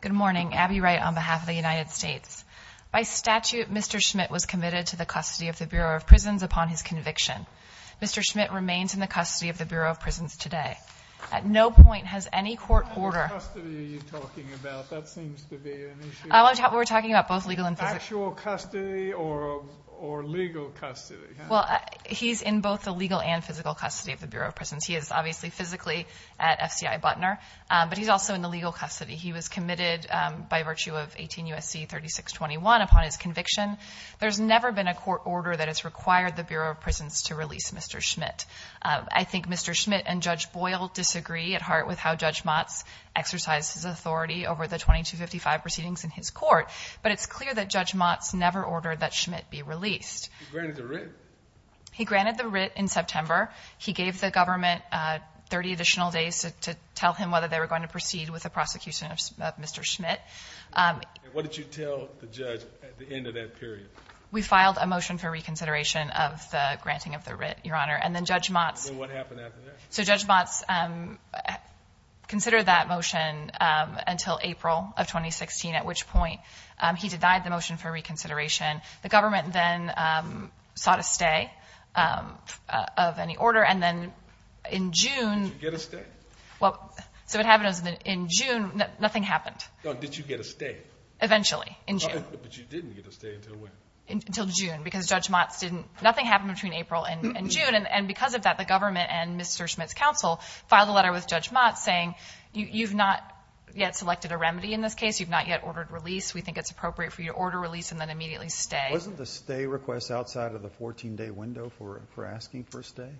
Good morning, Abby Wright on behalf of the United States. By statute, Mr. Schmidt was committed to the custody of the Bureau of Prisons upon his conviction. Mr. Schmidt remains in the custody of the Bureau of Prisons today. At no point has any court order- What kind of custody are you talking about? That seems to be an issue. We're talking about both legal and physical. Actual custody or legal custody? He's in both the legal and physical custody of the Bureau of Prisons. He is obviously physically at FCI Butner, but he's also in the legal custody. He was committed by virtue of 18 U.S.C. 3621 upon his conviction. There's never been a court order that has required the Bureau of Prisons to release Mr. Schmidt. I think Mr. Schmidt and Judge Boyle disagree at heart with how Judge Motz exercised his authority over the 2255 proceedings in his never ordered that Schmidt be released. He granted the writ? He granted the writ in September. He gave the government 30 additional days to tell him whether they were going to proceed with the prosecution of Mr. Schmidt. What did you tell the judge at the end of that period? We filed a motion for reconsideration of the granting of the writ, your honor. And then Judge Motz- And then what happened after that? So Judge Motz considered that motion until April of 2016, at which point he denied the reconsideration. The government then sought a stay of any order. And then in June- Did you get a stay? Well, so what happened was in June, nothing happened. No, did you get a stay? Eventually, in June. But you didn't get a stay until when? Until June, because Judge Motz didn't- nothing happened between April and June. And because of that, the government and Mr. Schmidt's counsel filed a letter with Judge Motz saying, you've not yet selected a remedy in this case. You've not yet ordered release. We think it's appropriate for you to order release and then immediately stay. Wasn't the stay request outside of the 14-day window for asking for a stay?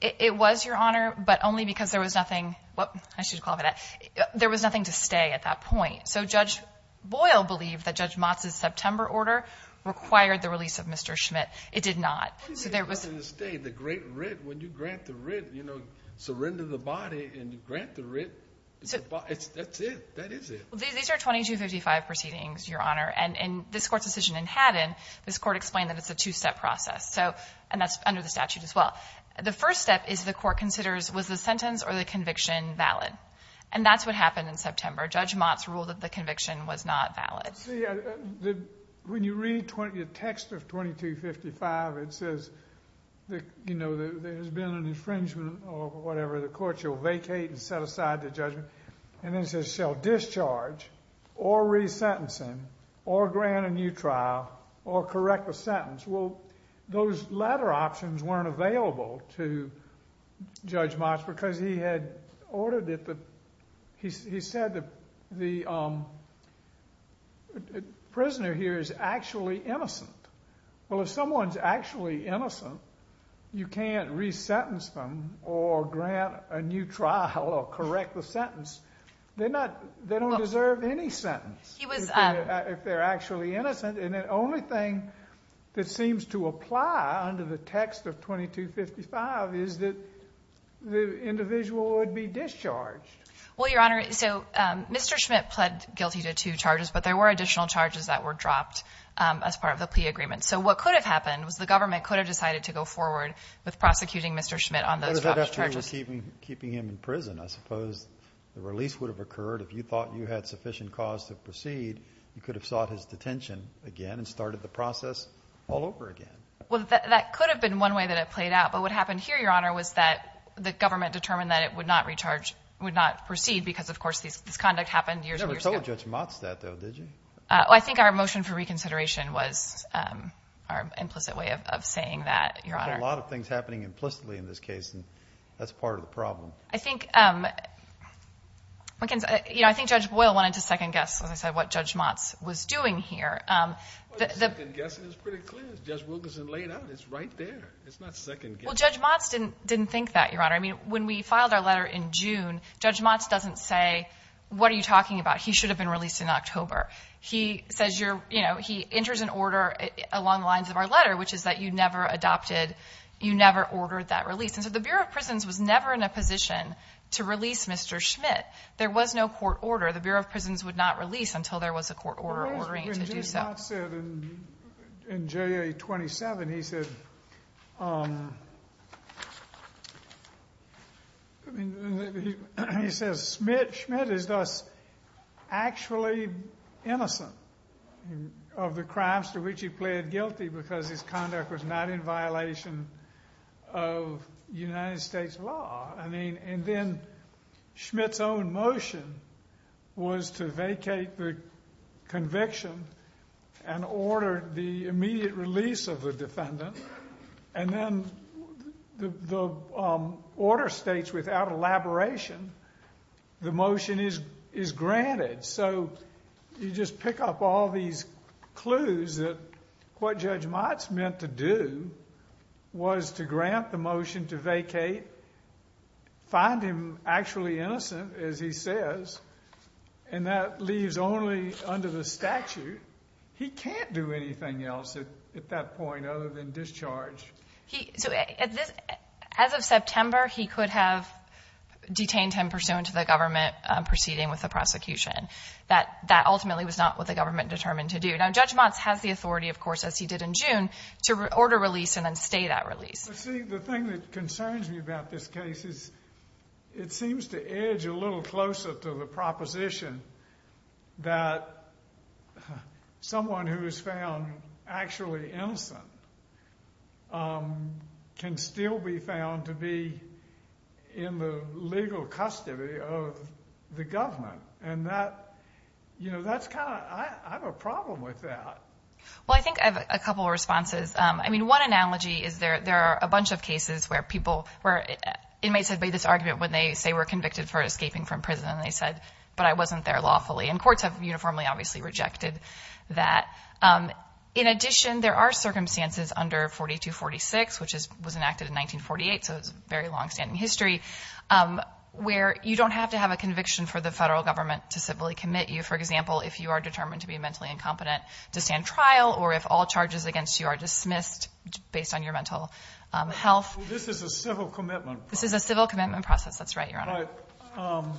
It was, your honor, but only because there was nothing- whoop, I should call it that. There was nothing to stay at that point. So Judge Boyle believed that Judge Motz's September order required the release of Mr. Schmidt. It did not. So there was- What do you mean, you didn't get a stay? The great writ, when you grant the writ, you know, surrender the body and grant the writ. That's it. That is it. These are 2255 proceedings, your honor. And this Court's decision in Haddon, this Court explained that it's a two-step process. So- and that's under the statute as well. The first step is the Court considers, was the sentence or the conviction valid? And that's what happened in September. Judge Motz ruled that the conviction was not valid. When you read the text of 2255, it says, you know, there has been an infringement or whatever. The Court shall vacate and set aside the judgment. And then it says, shall discharge or resentencing or grant a new trial or correct the sentence. Well, those latter options weren't available to Judge Motz because he had ordered that the- he said that the prisoner here is actually innocent. Well, if someone's actually innocent, you can't resentence them or grant a new trial or correct the sentence. They're not- they don't deserve any sentence. He was- if they're actually innocent. And the only thing that seems to apply under the text of 2255 is that the individual would be discharged. Well, your honor, so Mr. Schmidt pled guilty to two charges, but there were additional charges that were dropped as part of the plea agreement. So what could have happened was the government could have decided to go forward with prosecuting Mr. Schmidt on those charges. What if they were keeping him in prison? I suppose the release would have occurred if you thought you had sufficient cause to proceed. You could have sought his detention again and started the process all over again. Well, that could have been one way that it played out. But what happened here, your honor, was that the government determined that it would not recharge- would not proceed because, of course, this conduct happened years and years ago. You never told Judge Motz that, though, did you? I think our motion for reconsideration was our implicit way of saying that, your honor. There's a lot of things happening implicitly in this case, and that's part of the problem. I think- I think Judge Boyle wanted to second-guess, as I said, what Judge Motz was doing here. Well, the second-guessing is pretty clear. As Judge Wilkinson laid out, it's right there. It's not second-guessing. Well, Judge Motz didn't think that, your honor. I mean, when we filed our letter in June, Judge Motz doesn't say, what are you talking about? He should have been released in October. He says you're- you know, he enters an order along the lines of our letter, which is that you never adopted- you never ordered that release. And so the Bureau of Prisons was never in a position to release Mr. Schmidt. There was no court order. The Bureau of Prisons would not release until there was a court order ordering it to do so. Judge Motz said in JA 27, he said- I mean, he says Schmidt is thus actually innocent of the crimes to which he pled guilty because his conduct was not in violation of United States law. I mean, and then Schmidt's own motion was to vacate the conviction and order the immediate release of the defendant. And then the order states, without elaboration, the motion is granted. So you just pick up all these clues that what Judge Motz meant to do was to grant the motion to vacate, find him actually innocent, as he says, and that leaves only under the statute. He can't do anything else at that point other than discharge. So as of September, he could have detained him pursuant to the government proceeding with the prosecution. That ultimately was not what the government determined to do. Now Judge Motz has the authority, of course, as he did in June, to order release and then stay that release. See, the thing that concerns me about this case is it seems to edge a little closer to the proposition that someone who is found actually innocent can still be found to be in the legal custody of the government. And that, you know, that's kind of, I have a problem with that. Well, I think I have a couple of responses. I mean, one analogy is there are a bunch of cases where people, where inmates had made this argument when they say we're convicted for escaping from prison, and they said, but I wasn't there lawfully. And courts have uniformly, obviously, rejected that. In addition, there are circumstances under 4246, which was enacted in 1948, so it's a very long-standing history, where you don't have to have a conviction for the federal government to civilly commit you. For example, if you are determined to be mentally incompetent to stand trial, or if all charges against you are dismissed based on your mental health. This is a civil commitment. This is a civil commitment process. That's right, Your Honor.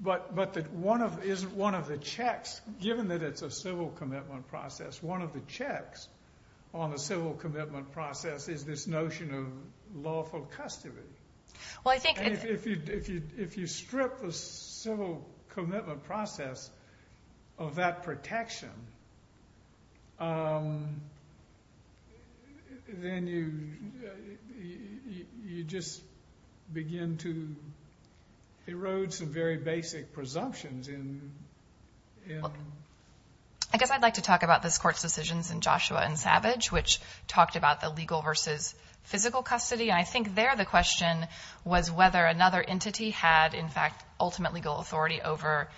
But one of the checks, given that it's a civil commitment process, one of the checks on the civil commitment process is this notion of lawful custody. Well, I think... If you strip the civil commitment process of that protection, then you just begin to erode some very basic presumptions in... I guess I'd like to talk about this Court's decisions in Joshua and Savage, which talked about the legal versus physical custody. And I think there the question was whether another entity had, in fact, ultimate legal authority over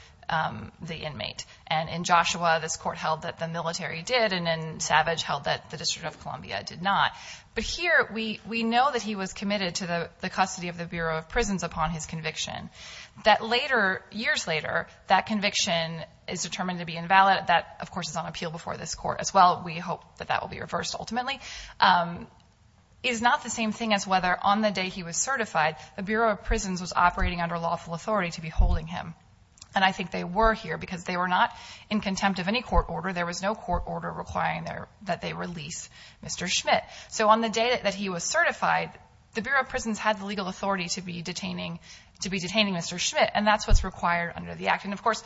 the inmate. And in Joshua, this Court held that the military did, and in Savage held that the District of Columbia did not. But here, we know that he was committed to the custody of the Bureau of Prisons upon his conviction. That later, years later, that conviction is determined to be invalid. That, of course, is on appeal before this Court as well. We hope that that will be reversed ultimately. It is not the same thing as whether, on the day he was certified, the Bureau of Prisons was operating under lawful authority to be holding him. And I think they were here, because they were not in contempt of any court order. There was no court order requiring that they release Mr. Schmidt. So on the day that he was certified, the Bureau of Prisons had the legal authority to be detaining Mr. Schmidt. And that's what's required under the Act. And, of course,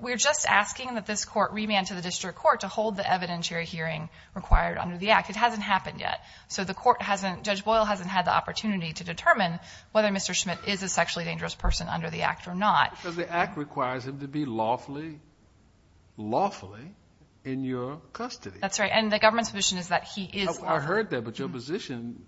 we're just asking that this Court remand to the District Court to hold the evidentiary hearing required under the Act. It hasn't happened yet. So the Court hasn't, Judge Boyle hasn't had the opportunity to determine whether Mr. Schmidt is a sexually dangerous person under the Act or not. Because the Act requires him to be lawfully in your custody. That's right. And the government's position is that he is lawful. I heard that, but your position,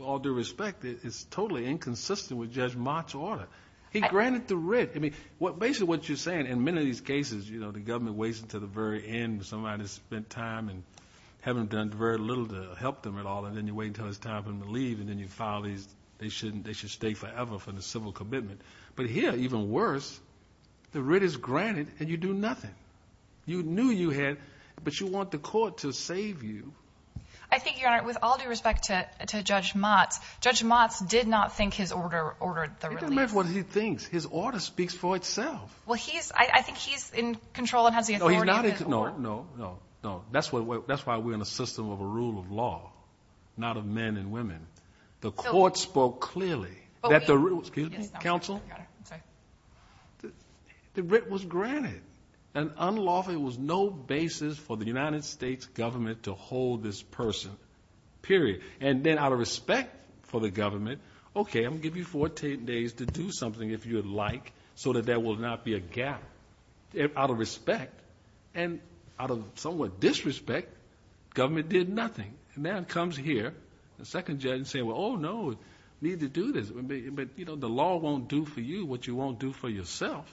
all due respect, is totally inconsistent with Judge Mott's order. He granted the writ. I mean, basically what you're saying, in many of these cases, you know, the government waits until the very end when somebody's spent time and haven't done very little to help them at all. And then you wait until it's time for them to leave. And then you file these, they should stay forever for the civil commitment. But here, even worse, the writ is granted and you do nothing. You knew you had, but you want the Court to save you. I think, Your Honor, with all due respect to Judge Mott, Judge Mott did not think his order ordered the release. It doesn't matter what he thinks. His order speaks for itself. Well, he's, I think he's in control and has the authority. No, he's not in control. No, no, no. That's why we're in a system of a rule of law, not of men and women. The Court spoke clearly that the writ was granted. And unlawful was no basis for the United States government to hold this person, period. And then out of respect for the government, okay, I'm going to give you 14 days to do something, if you would like, so that there will not be a gap. Out of respect, and out of somewhat disrespect, government did nothing. And then comes here a second judge saying, well, oh, no, we need to do this. But, you know, the law won't do for you what you won't do for yourself.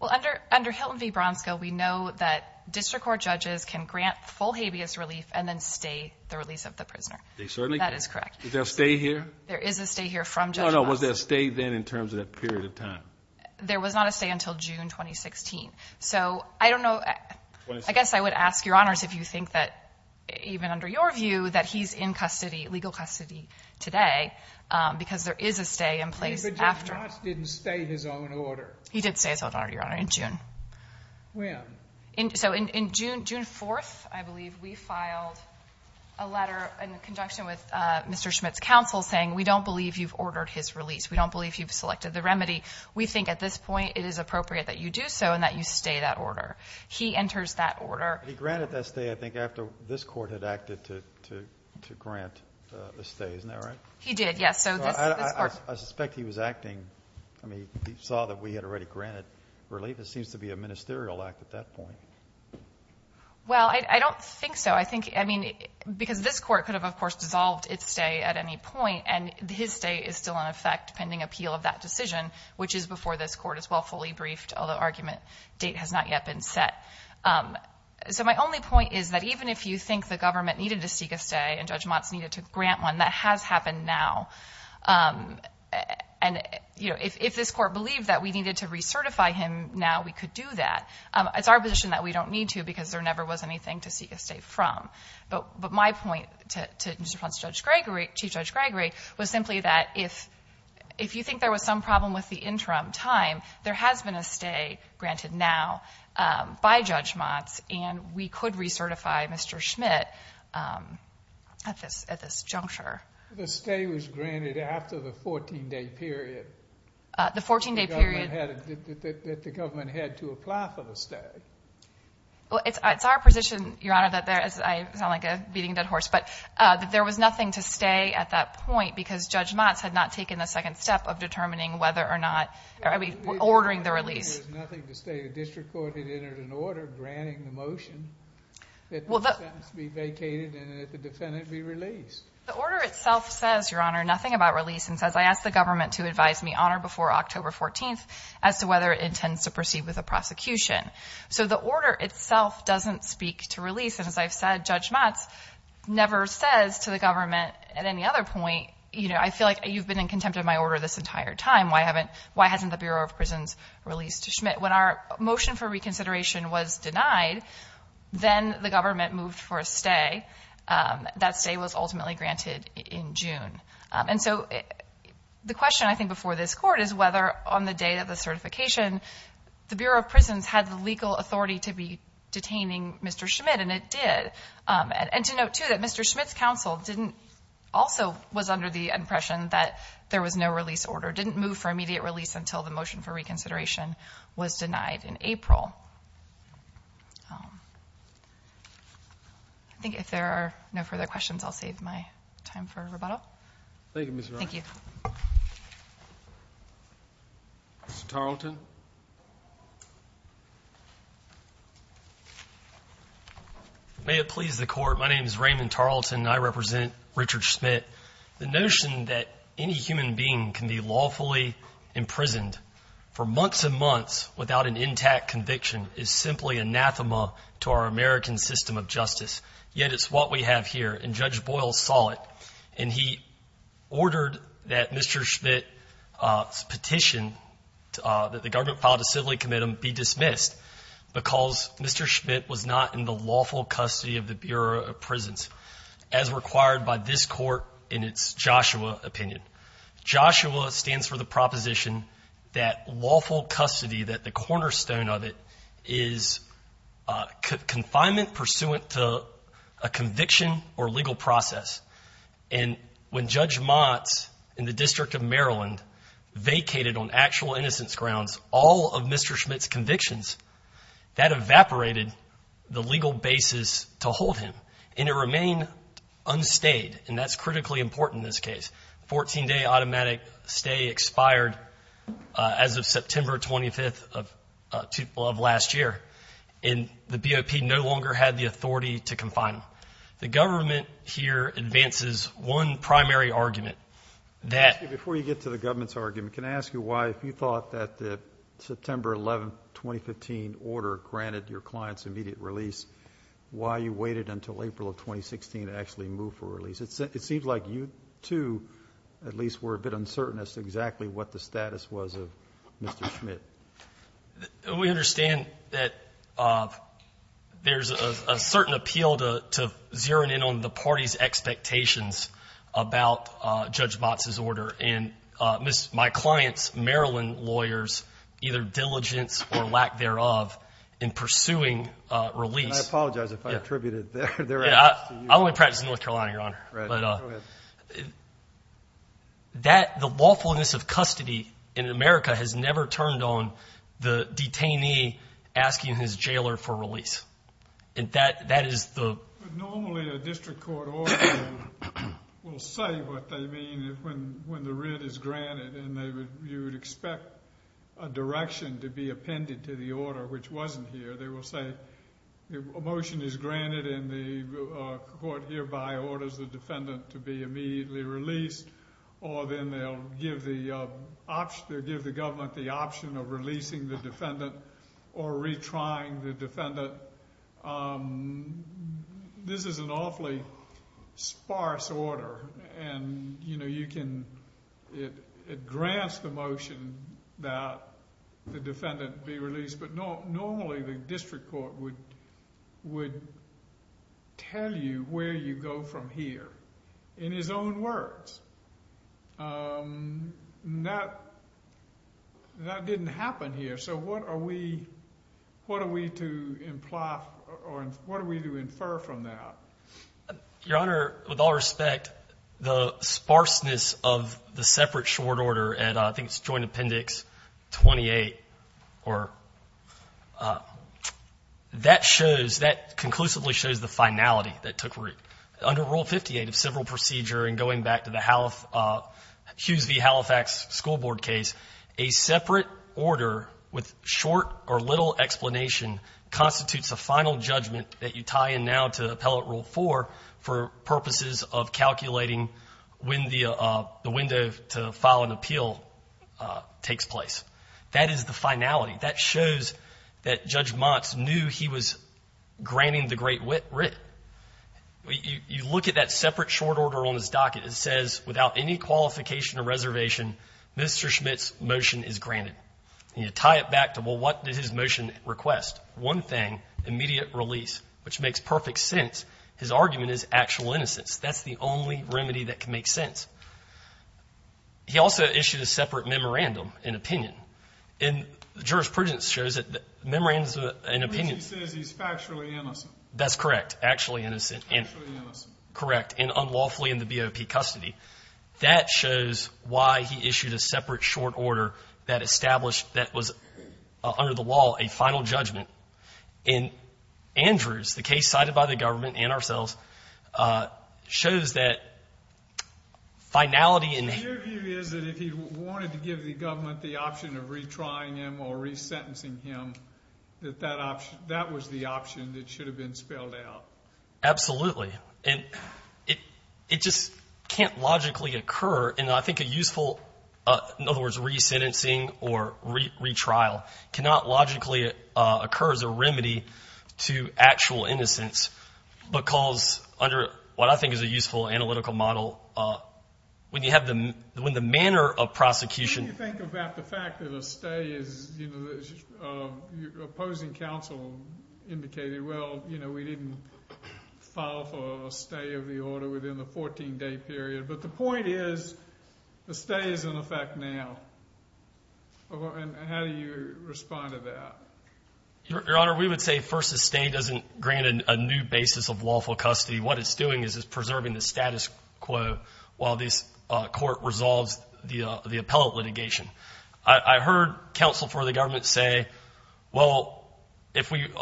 Well, under Hilton v. Bronsko, we know that district court judges can grant full habeas relief and then stay the release of the prisoner. They certainly can. That is correct. Is there a stay here? There is a stay here from Judge Mott. No, no, was there a stay then in terms of that period of time? There was not a stay until June 2016. So, I don't know, I guess I would ask, Your Honors, if you think that, even under your view, that he's in custody, legal custody today, because there is a stay in place after. But Judge Mott didn't stay in his own order. He did stay in his own order, Your Honor, in June. When? So, in June 4th, I believe, we filed a letter in conjunction with Mr. Bronsko to ask for his release. We don't believe you've selected the remedy. We think, at this point, it is appropriate that you do so and that you stay that order. He enters that order. He granted that stay, I think, after this Court had acted to grant the stay, isn't that right? He did, yes. So, this Court. I suspect he was acting, I mean, he saw that we had already granted relief. It seems to be a ministerial act at that point. Well, I don't think so. I think, I mean, because this Court could have, of course, dissolved its stay at any point, and his stay is still, in effect, pending appeal of that decision, which is before this Court, as well, fully briefed, although argument date has not yet been set. So, my only point is that even if you think the government needed to seek a stay, and Judge Mott's needed to grant one, that has happened now. And, you know, if this Court believed that we needed to recertify him now, we could do that. It's our position that we don't need to, because there never was anything to seek a stay from. But my point to Chief Judge Gregory was simply that if you think there was some problem with the interim time, there has been a stay granted now by Judge Mott's, and we could recertify Mr. Schmidt at this juncture. The stay was granted after the 14-day period that the government had to apply for the stay. Well, it's our position, Your Honor, that there, as I sound like a beating dead horse, but that there was nothing to stay at that point because Judge Mott's had not taken the second step of determining whether or not, I mean, ordering the release. There was nothing to stay. The district court had entered an order granting the motion that the sentence be vacated and that the defendant be released. The order itself says, Your Honor, nothing about release, and says, I ask the government to advise me on or before October 14th as to whether it intends to proceed with the prosecution. So the order itself doesn't speak to release, and as I've said, Judge Mott's never says to the government at any other point, you know, I feel like you've been in contempt of my order this entire time. Why hasn't the Bureau of Prisons released Schmidt? When our motion for reconsideration was denied, then the government moved for a stay. That stay was ultimately granted in June. And so the question, I think, before this court is whether on the day of the certification, the Bureau of Prisons had the legal authority to be detaining Mr. Schmidt, and it did. And to note, too, that Mr. Schmidt's counsel didn't, also was under the impression that there was no release order, didn't move for immediate release until the motion for reconsideration was denied in April. I think if there are no further questions, I'll save my time for rebuttal. Thank you, Ms. Wright. Thank you. Mr. Tarleton. May it please the Court, my name is Raymond Tarleton, and I represent Richard Schmidt. The notion that any human being can be lawfully imprisoned for months and months without an intact conviction is simply anathema to our American system of justice. Yet it's what we have here, and Judge Boyle saw it, and he ordered that Mr. Schmidt's petition that the government filed to civilly commit him be dismissed because Mr. Schmidt was not in the lawful custody of the Bureau of Prisons. As required by this court in its Joshua opinion. Joshua stands for the proposition that lawful custody, that the cornerstone of it, is confinement pursuant to a conviction or legal process. And when Judge Motz in the District of Maryland vacated on actual innocence grounds all of Mr. Schmidt's convictions, that evaporated the legal basis to hold him, and it remained unstayed. And that's critically important in this case. Fourteen-day automatic stay expired as of September 25th of last year, and the BOP no longer had the authority to confine him. The government here advances one primary argument. Before you get to the government's argument, can I ask you why, if you thought that the September 11, 2015 order granted your client's immediate release, why you waited until April of 2016 to actually move for release? It seems like you, too, at least were a bit uncertain as to exactly what the status was of Mr. Schmidt. We understand that there's a certain appeal to zeroing in on the party's expectations about Judge Motz's order. And my client's Maryland lawyers, either diligence or lack thereof, in pursuing release. And I apologize if I attributed their actions to you. I only practice in North Carolina, Your Honor. Right. Go ahead. The lawfulness of custody in America has never turned on the detainee asking his jailer for release. And that is the— Normally a district court order will say what they mean when the writ is granted, and you would expect a direction to be appended to the order which wasn't here. They will say a motion is granted and the court hereby orders the defendant to be immediately released, or then they'll give the government the option of releasing the defendant or retrying the defendant. This is an awfully sparse order. And, you know, you can—it grants the motion that the defendant be released, but normally the district court would tell you where you go from here in his own words. That didn't happen here. So what are we to imply or what are we to infer from that? Your Honor, with all respect, the sparseness of the separate short order, and I think it's Joint Appendix 28 or—that shows, that conclusively shows the finality that took root. Under Rule 58 of civil procedure and going back to the Hughes v. Halifax school board case, a separate order with short or little explanation constitutes a final judgment that you tie in now to Appellate Rule 4 for purposes of calculating when the window to file an appeal takes place. That is the finality. That shows that Judge Montz knew he was granting the great writ. You look at that separate short order on his docket. It says, without any qualification or reservation, Mr. Schmidt's motion is granted. And you tie it back to, well, what did his motion request? One thing, immediate release, which makes perfect sense. His argument is actual innocence. That's the only remedy that can make sense. He also issued a separate memorandum and opinion. And the jurisprudence shows that the memorandum and opinion— Which he says he's factually innocent. That's correct. Actually innocent and— Factually innocent. That shows why he issued a separate short order that established, that was under the wall, a final judgment. And Andrews, the case cited by the government and ourselves, shows that finality in— Your view is that if he wanted to give the government the option of retrying him or resentencing him, that that was the option that should have been spelled out. Absolutely. And it just can't logically occur. And I think a useful—in other words, resentencing or retrial cannot logically occur as a remedy to actual innocence. Because under what I think is a useful analytical model, when you have the manner of prosecution— —within the 14-day period. But the point is the stay is in effect now. And how do you respond to that? Your Honor, we would say first the stay doesn't grant a new basis of lawful custody. What it's doing is it's preserving the status quo while this court resolves the appellate litigation. I heard counsel for the government say, well, if we win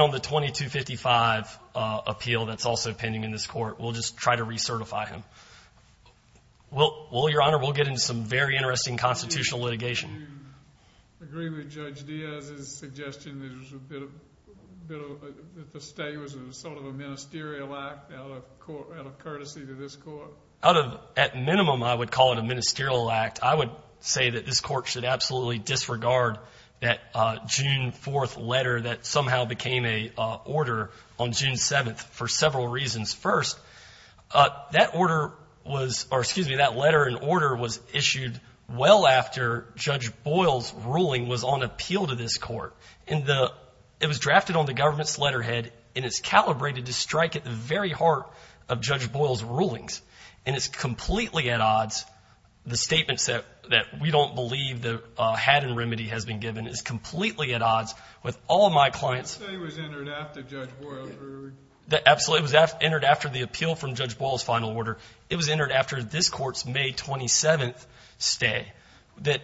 on the 2255 appeal that's also pending in this court, we'll just try to recertify him. Well, Your Honor, we'll get into some very interesting constitutional litigation. Do you agree with Judge Diaz's suggestion that the stay was sort of a ministerial act out of courtesy to this court? Out of—at minimum, I would call it a ministerial act. I would say that this court should absolutely disregard that June 4th letter that somehow became a order on June 7th for several reasons. First, that order was—or excuse me, that letter and order was issued well after Judge Boyle's ruling was on appeal to this court. And the—it was drafted on the government's letterhead, and it's calibrated to strike at the very heart of Judge Boyle's rulings. And it's completely at odds—the statements that we don't believe the hat and remedy has been given is completely at odds with all my clients. The stay was entered after Judge Boyle— Absolutely. It was entered after the appeal from Judge Boyle's final order. It was entered after this court's May 27th stay that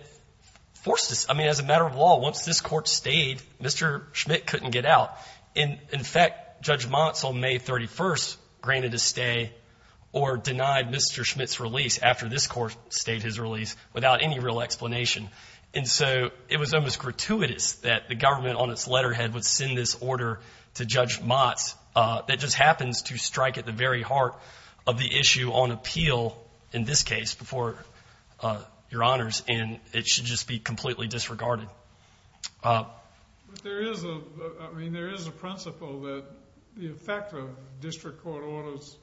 forced us—I mean, as a matter of law, once this court stayed, Mr. Schmidt couldn't get out. And, in fact, Judge Motz on May 31st granted a stay or denied Mr. Schmidt's release after this court stayed his release without any real explanation. And so it was almost gratuitous that the government on its letterhead would send this order to Judge Motz that just happens to strike at the very heart of the issue on appeal, in this case, before Your Honors, and it should just be completely disregarded. But there is a—I mean, there is a principle that the effect of district court orders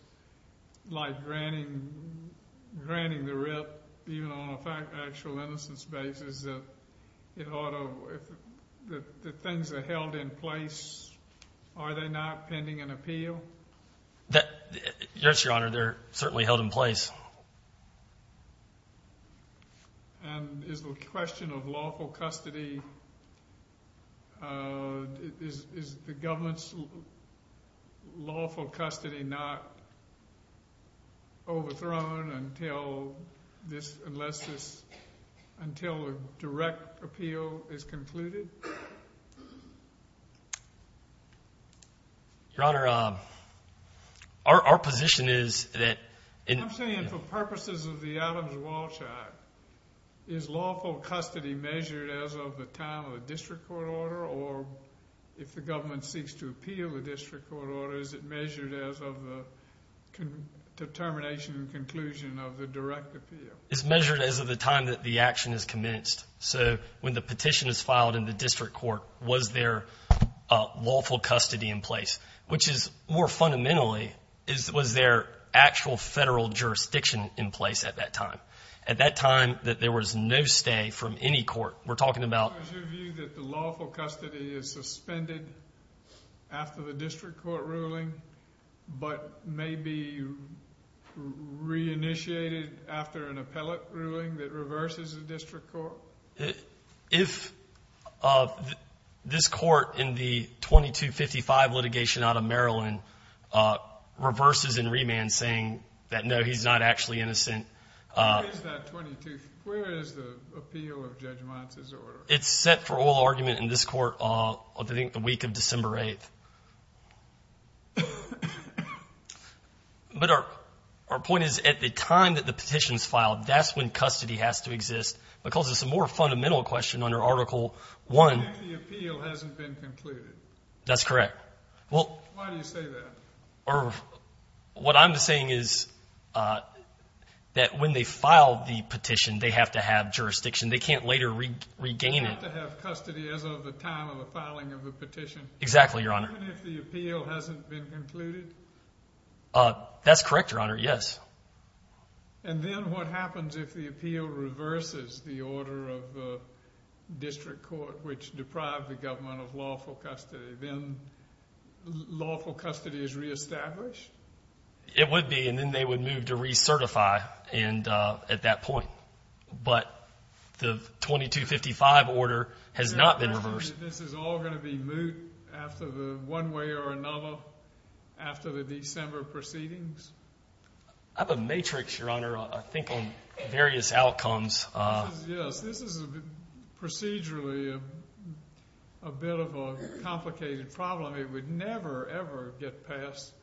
like granting the writ, even on an actual innocence basis, that things are held in place. Are they not pending an appeal? Yes, Your Honor, they're certainly held in place. And is the question of lawful custody—is the government's lawful custody not overthrown until this—unless this—until a direct appeal is concluded? Your Honor, our position is that— I'm saying for purposes of the Adams-Walsh Act, is lawful custody measured as of the time of the district court order? Or if the government seeks to appeal the district court order, is it measured as of the determination and conclusion of the direct appeal? It's measured as of the time that the action is commenced. So when the petition is filed in the district court, was there lawful custody in place? Which is, more fundamentally, was there actual federal jurisdiction in place at that time? At that time, there was no stay from any court. We're talking about— After the district court ruling, but maybe reinitiated after an appellate ruling that reverses the district court? If this court in the 2255 litigation out of Maryland reverses and remands saying that, no, he's not actually innocent— Where is that 22—where is the appeal of Judge Monson's order? It's set for oral argument in this court, I think, the week of December 8th. But our point is, at the time that the petition is filed, that's when custody has to exist. Because it's a more fundamental question under Article I— The appeal hasn't been concluded. That's correct. Why do you say that? What I'm saying is that when they file the petition, they have to have jurisdiction. They can't later regain it. They have to have custody as of the time of the filing of the petition. Exactly, Your Honor. Even if the appeal hasn't been concluded? That's correct, Your Honor, yes. And then what happens if the appeal reverses the order of the district court, which deprived the government of lawful custody? Then lawful custody is reestablished? It would be, and then they would move to recertify at that point. But the 2255 order has not been reversed. This is all going to be moot one way or another after the December proceedings? I have a matrix, Your Honor, I think, on various outcomes. Yes, this is procedurally a bit of a complicated problem. It would never, ever get passed.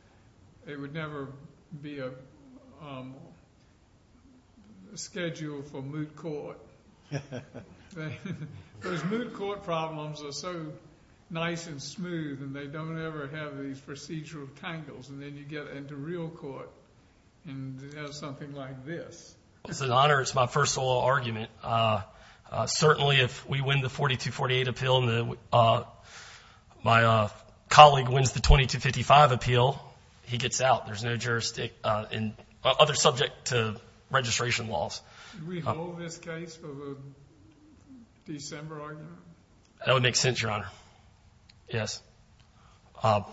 It would never be a schedule for moot court. Those moot court problems are so nice and smooth, and they don't ever have these procedural tangles. And then you get into real court and have something like this. It's an honor. It's my first law argument. Certainly, if we win the 4248 appeal and my colleague wins the 2255 appeal, he gets out. There's no jurisdiction, other subject to registration laws. Do we hold this case for the December argument? That would make sense, Your Honor, yes. But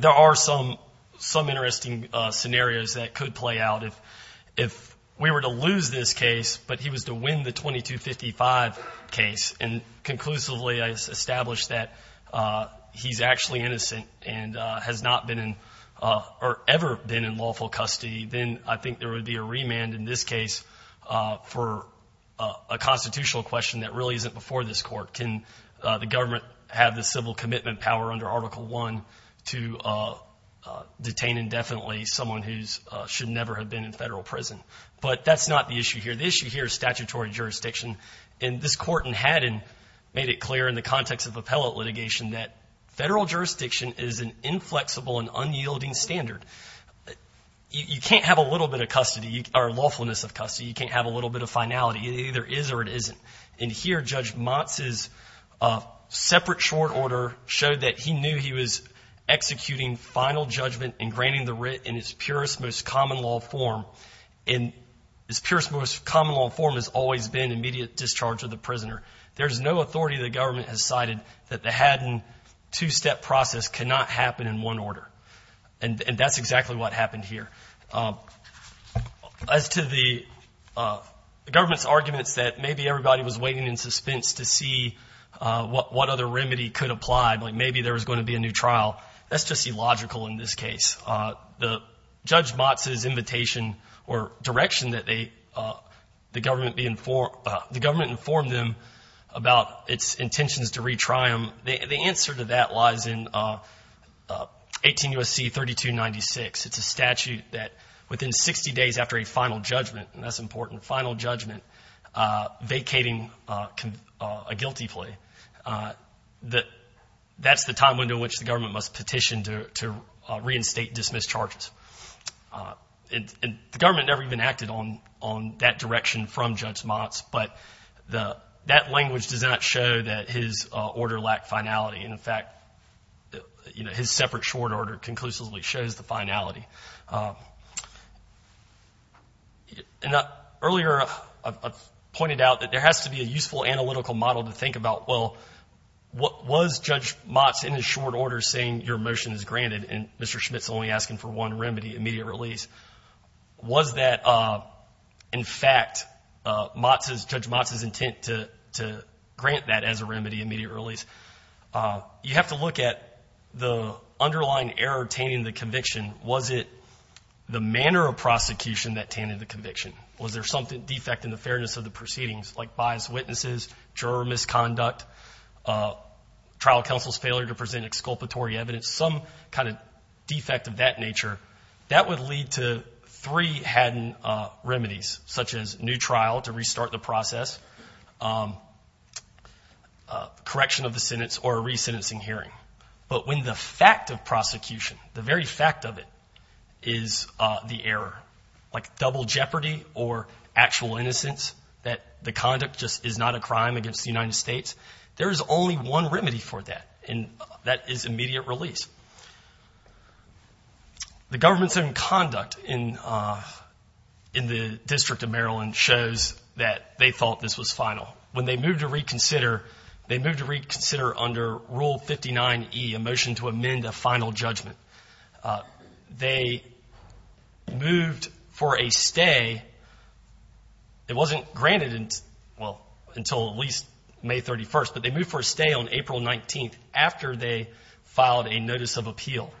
there are some interesting scenarios that could play out. If we were to lose this case but he was to win the 2255 case and conclusively establish that he's actually innocent and has not been in or ever been in lawful custody, then I think there would be a remand in this case for a constitutional question that really isn't before this court. Can the government have the civil commitment power under Article I to detain indefinitely someone who should never have been in federal prison? But that's not the issue here. The issue here is statutory jurisdiction. And this court in Haddon made it clear in the context of appellate litigation that federal jurisdiction is an inflexible and unyielding standard. You can't have a little bit of lawfulness of custody. You can't have a little bit of finality. It either is or it isn't. And here Judge Motz's separate short order showed that he knew he was executing final judgment and granting the writ in its purest, most common law form. And its purest, most common law form has always been immediate discharge of the prisoner. There's no authority the government has cited that the Haddon two-step process cannot happen in one order. And that's exactly what happened here. As to the government's arguments that maybe everybody was waiting in suspense to see what other remedy could apply, like maybe there was going to be a new trial, that's just illogical in this case. The Judge Motz's invitation or direction that the government informed them about its intentions to retry him, the answer to that lies in 18 U.S.C. 3296. It's a statute that within 60 days after a final judgment, and that's important, final judgment vacating a guilty plea, that's the time window in which the government must petition to reinstate, dismiss charges. The government never even acted on that direction from Judge Motz, but that language does not show that his order lacked finality. In fact, his separate short order conclusively shows the finality. Earlier, I pointed out that there has to be a useful analytical model to think about, well, was Judge Motz in his short order saying, your motion is granted, and Mr. Schmidt's only asking for one remedy, immediate release. Was that, in fact, Judge Motz's intent to grant that as a remedy, immediate release? You have to look at the underlying error tainting the conviction. Was it the manner of prosecution that tainted the conviction? Was there some defect in the fairness of the proceedings, like biased witnesses, juror misconduct, trial counsel's failure to present exculpatory evidence, some kind of defect of that nature? That would lead to three hidden remedies, such as new trial to restart the process, correction of the sentence, or a resentencing hearing. But when the fact of prosecution, the very fact of it, is the error, like double jeopardy or actual innocence, that the conduct just is not a crime against the United States, there is only one remedy for that, and that is immediate release. The government's own conduct in the District of Maryland shows that they thought this was final. When they moved to reconsider, they moved to reconsider under Rule 59E, a motion to amend a final judgment. They moved for a stay. It wasn't granted until at least May 31st, but they moved for a stay on April 19th after they filed a notice of appeal,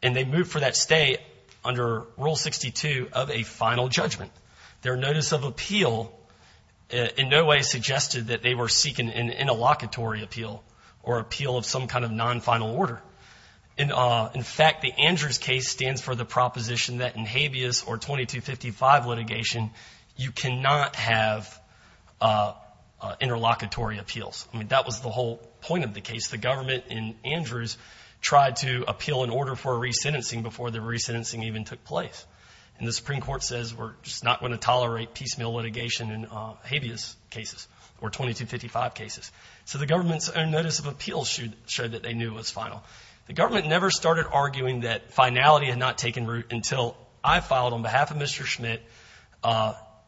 and they moved for that stay under Rule 62 of a final judgment. Their notice of appeal in no way suggested that they were seeking an interlocutory appeal or appeal of some kind of non-final order. In fact, the Andrews case stands for the proposition that in habeas or 2255 litigation, you cannot have interlocutory appeals. I mean, that was the whole point of the case. The government in Andrews tried to appeal an order for a resentencing before the resentencing even took place, and the Supreme Court says we're just not going to tolerate piecemeal litigation in habeas cases or 2255 cases. So the government's own notice of appeal showed that they knew it was final. The government never started arguing that finality had not taken root until I filed on behalf of Mr. Schmidt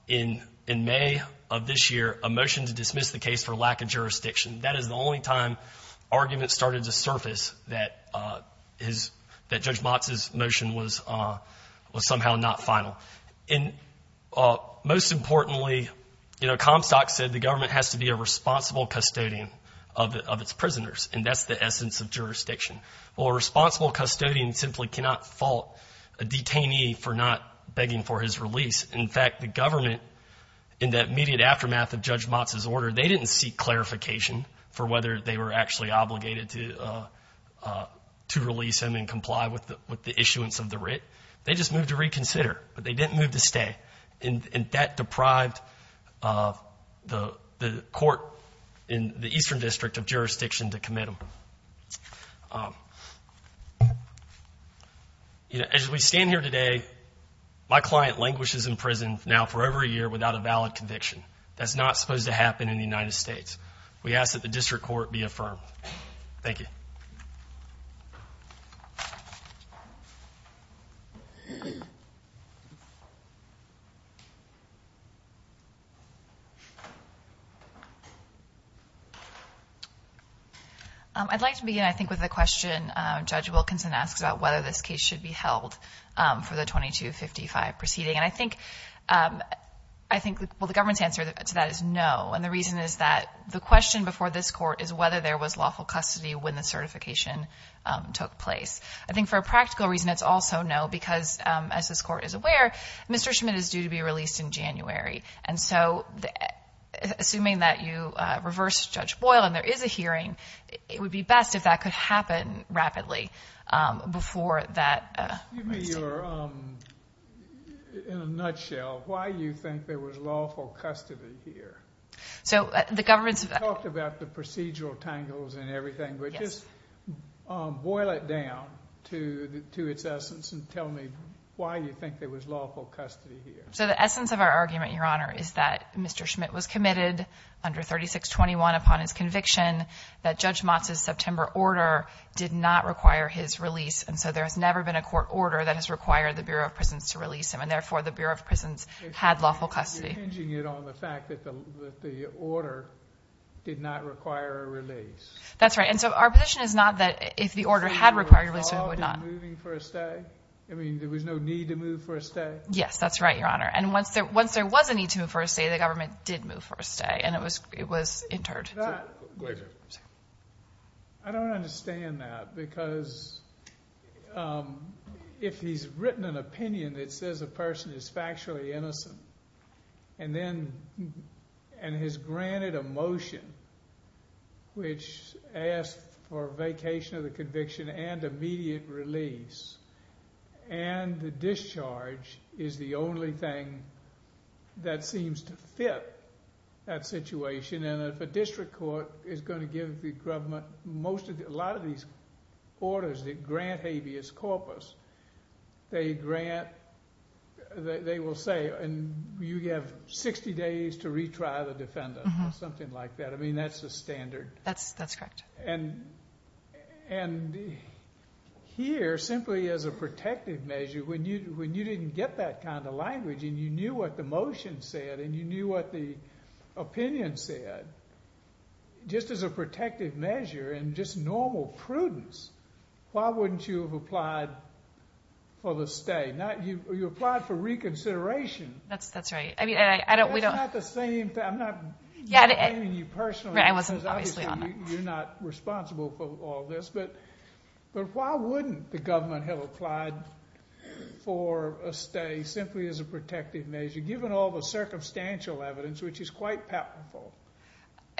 in May of this year a motion to dismiss the case for lack of jurisdiction. That is the only time arguments started to surface that Judge Motz's motion was somehow not final. And most importantly, you know, Comstock said the government has to be a responsible custodian of its prisoners, and that's the essence of jurisdiction. Well, a responsible custodian simply cannot fault a detainee for not begging for his release. In fact, the government, in that immediate aftermath of Judge Motz's order, they didn't seek clarification for whether they were actually obligated to release him and comply with the issuance of the writ. They just moved to reconsider, but they didn't move to stay, and that deprived the court in the Eastern District of jurisdiction to commit him. As we stand here today, my client languishes in prison now for over a year without a valid conviction. That's not supposed to happen in the United States. We ask that the district court be affirmed. Thank you. I'd like to begin, I think, with a question Judge Wilkinson asked about whether this case should be held for the 2255 proceeding. And I think the government's answer to that is no. And the reason is that the question before this court is whether there was lawful custody when the certification took place. I think for a practical reason it's also no because, as this court is aware, Mr. Schmidt is due to be released in January. And so assuming that you reverse Judge Boyle and there is a hearing, it would be best if that could happen rapidly before that. In a nutshell, why do you think there was lawful custody here? You talked about the procedural tangles and everything, but just boil it down to its essence and tell me why you think there was lawful custody here. So the essence of our argument, Your Honor, is that Mr. Schmidt was committed under 3621 upon his conviction, that Judge Motz's September order did not require his release, and so there has never been a court order that has required the Bureau of Prisons to release him, and therefore the Bureau of Prisons had lawful custody. You're hinging it on the fact that the order did not require a release. That's right. And so our position is not that if the order had required a release, it would not. So there was no need to move for a stay? Yes, that's right, Your Honor. And once there was a need to move for a stay, the government did move for a stay, and it was interred. I don't understand that because if he's written an opinion that says a person is factually innocent and has granted a motion which asks for a vacation of the conviction and immediate release, and the discharge is the only thing that seems to fit that situation, and if a district court is going to give the government a lot of these orders that grant habeas corpus, they will say you have 60 days to retry the defendant or something like that. I mean, that's the standard. That's correct. And here, simply as a protective measure, when you didn't get that kind of language and you knew what the motion said and you knew what the opinion said, just as a protective measure and just normal prudence, why wouldn't you have applied for the stay? You applied for reconsideration. That's right. That's not the same thing. I'm not blaming you personally because obviously you're not responsible for all this, but why wouldn't the government have applied for a stay simply as a protective measure, given all the circumstantial evidence, which is quite palpable?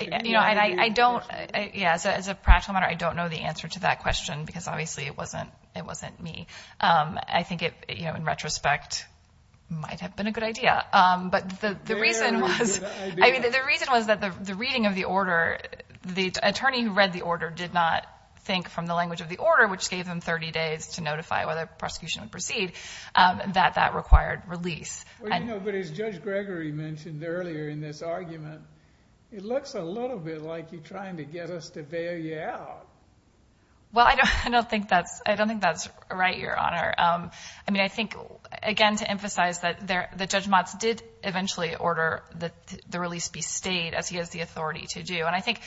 You know, as a practical matter, I don't know the answer to that question because obviously it wasn't me. I think it, in retrospect, might have been a good idea, but the reason was that the reading of the order, the attorney who read the order did not think from the language of the order, which gave them 30 days to notify whether the prosecution would proceed, that that required release. Well, you know, but as Judge Gregory mentioned earlier in this argument, it looks a little bit like you're trying to get us to bail you out. Well, I don't think that's right, Your Honor. I mean, I think, again, to emphasize that Judge Motz did eventually order the release be stayed, as he has the authority to do, and I think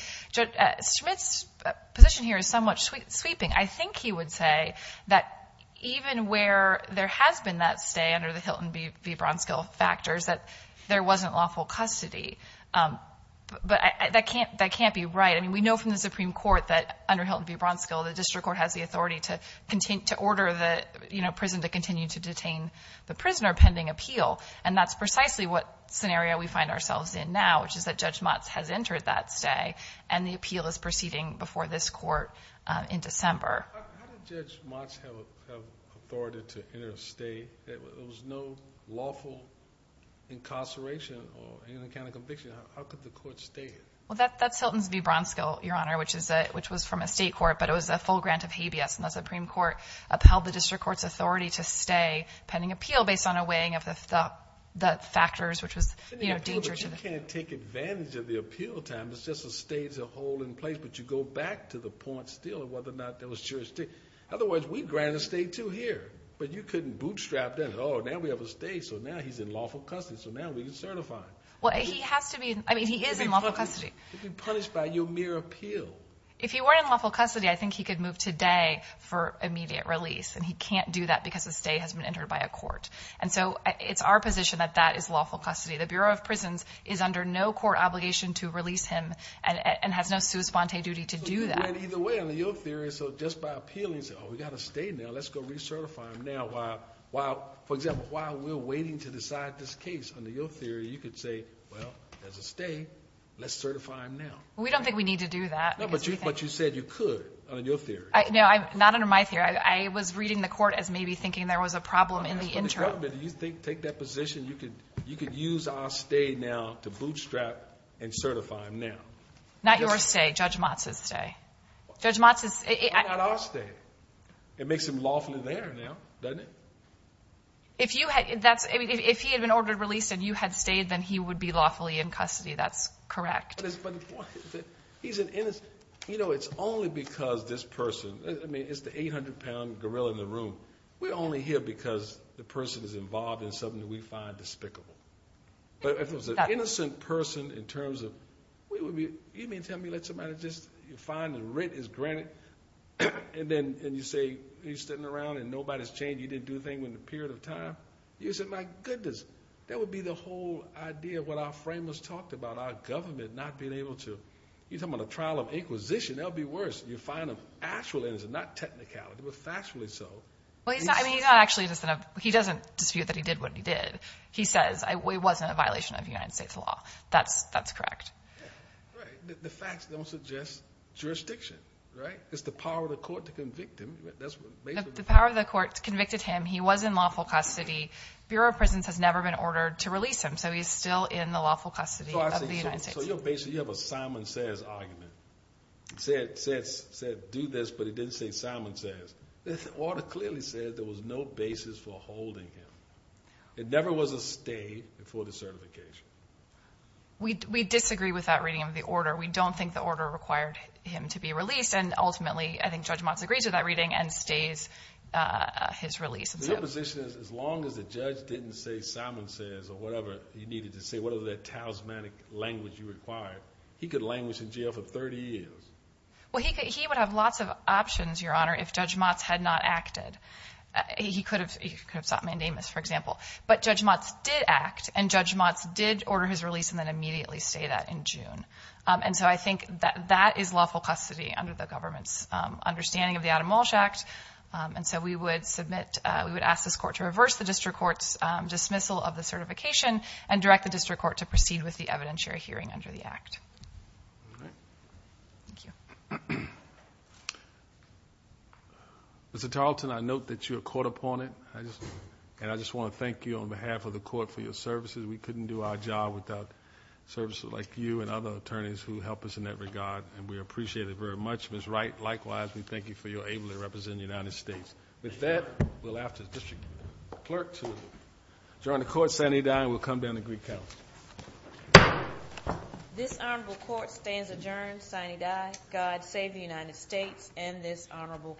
Smith's position here is somewhat sweeping. I think he would say that even where there has been that stay under the Hilton v. Bronskill factors, that there wasn't lawful custody, but that can't be right. I mean, we know from the Supreme Court that under Hilton v. Bronskill, the district court has the authority to order the prison to continue to detain the prisoner pending appeal, and that's precisely what scenario we find ourselves in now, which is that Judge Motz has entered that stay, and the appeal is proceeding before this court in December. How did Judge Motz have authority to enter a stay? There was no lawful incarceration or any kind of conviction. How could the court stay? Well, that's Hilton v. Bronskill, Your Honor, which was from a state court, but it was a full grant of habeas, and the Supreme Court upheld the district court's authority to stay pending appeal based on a weighing of the factors, which was, you know, dangerous. But you can't take advantage of the appeal time. It's just a stay to hold in place, but you go back to the point still of whether or not there was jurisdiction. Otherwise, we'd grant a stay, too, here, but you couldn't bootstrap that. Oh, now we have a stay, so now he's in lawful custody, so now we can certify him. Well, he has to be. I mean, he is in lawful custody. He'd be punished by your mere appeal. If he were in lawful custody, I think he could move today for immediate release, and he can't do that because a stay has been entered by a court. And so it's our position that that is lawful custody. The Bureau of Prisons is under no court obligation to release him and has no sui sponte duty to do that. Either way, under your theory, so just by appealing, say, oh, we've got a stay now, let's go recertify him now. For example, while we're waiting to decide this case, under your theory, you could say, well, there's a stay, let's certify him now. We don't think we need to do that. No, but you said you could, under your theory. No, not under my theory. I was reading the court as maybe thinking there was a problem in the interim. You take that position, you could use our stay now to bootstrap and certify him now. Not your stay, Judge Motz's stay. Why not our stay? It makes him lawfully there now, doesn't it? If he had been ordered released and you had stayed, then he would be lawfully in custody, that's correct. He's an innocent. You know, it's only because this person, I mean, it's the 800-pound gorilla in the room. We're only here because the person is involved in something that we find despicable. But if it was an innocent person in terms of, you mean tell me let somebody just find the rent is granted, and then you say he's sitting around and nobody's changed, he didn't do a thing in a period of time? You say, my goodness, that would be the whole idea of what our framers talked about, our government not being able to. You're talking about a trial of inquisition. That would be worse. You find an actual innocent, not technicality, but factually so. He doesn't dispute that he did what he did. He says it wasn't a violation of United States law. That's correct. Right. The facts don't suggest jurisdiction, right? It's the power of the court to convict him. The power of the court convicted him. He was in lawful custody. Bureau of Prisons has never been ordered to release him, so he's still in the lawful custody of the United States. So you have a Simon Says argument. It said do this, but it didn't say Simon Says. The order clearly said there was no basis for holding him. It never was a stay before the certification. We disagree with that reading of the order. We don't think the order required him to be released. And ultimately, I think Judge Motz agrees with that reading and stays his release. Your position is as long as the judge didn't say Simon Says or whatever he needed to say, whatever that talismanic language you required, he could languish in jail for 30 years. Well, he would have lots of options, Your Honor, if Judge Motz had not acted. He could have sought mandamus, for example. But Judge Motz did act, and Judge Motz did order his release and then immediately stay that in June. And so I think that that is lawful custody under the government's understanding of the Adam Walsh Act. And so we would submit, we would ask this court to reverse the district court's dismissal of the certification and direct the district court to proceed with the evidentiary hearing under the act. All right. Thank you. Mr. Tarleton, I note that you are caught upon it, and I just want to thank you on behalf of the court for your services. We couldn't do our job without services like you and other attorneys who help us in that regard, and we appreciate it very much. Ms. Wright, likewise, we thank you for your ability to represent the United States. With that, we'll ask the district clerk to adjourn the court, signee die, and we'll come down to Greek Council. This honorable court stands adjourned, signee die. God save the United States and this honorable court.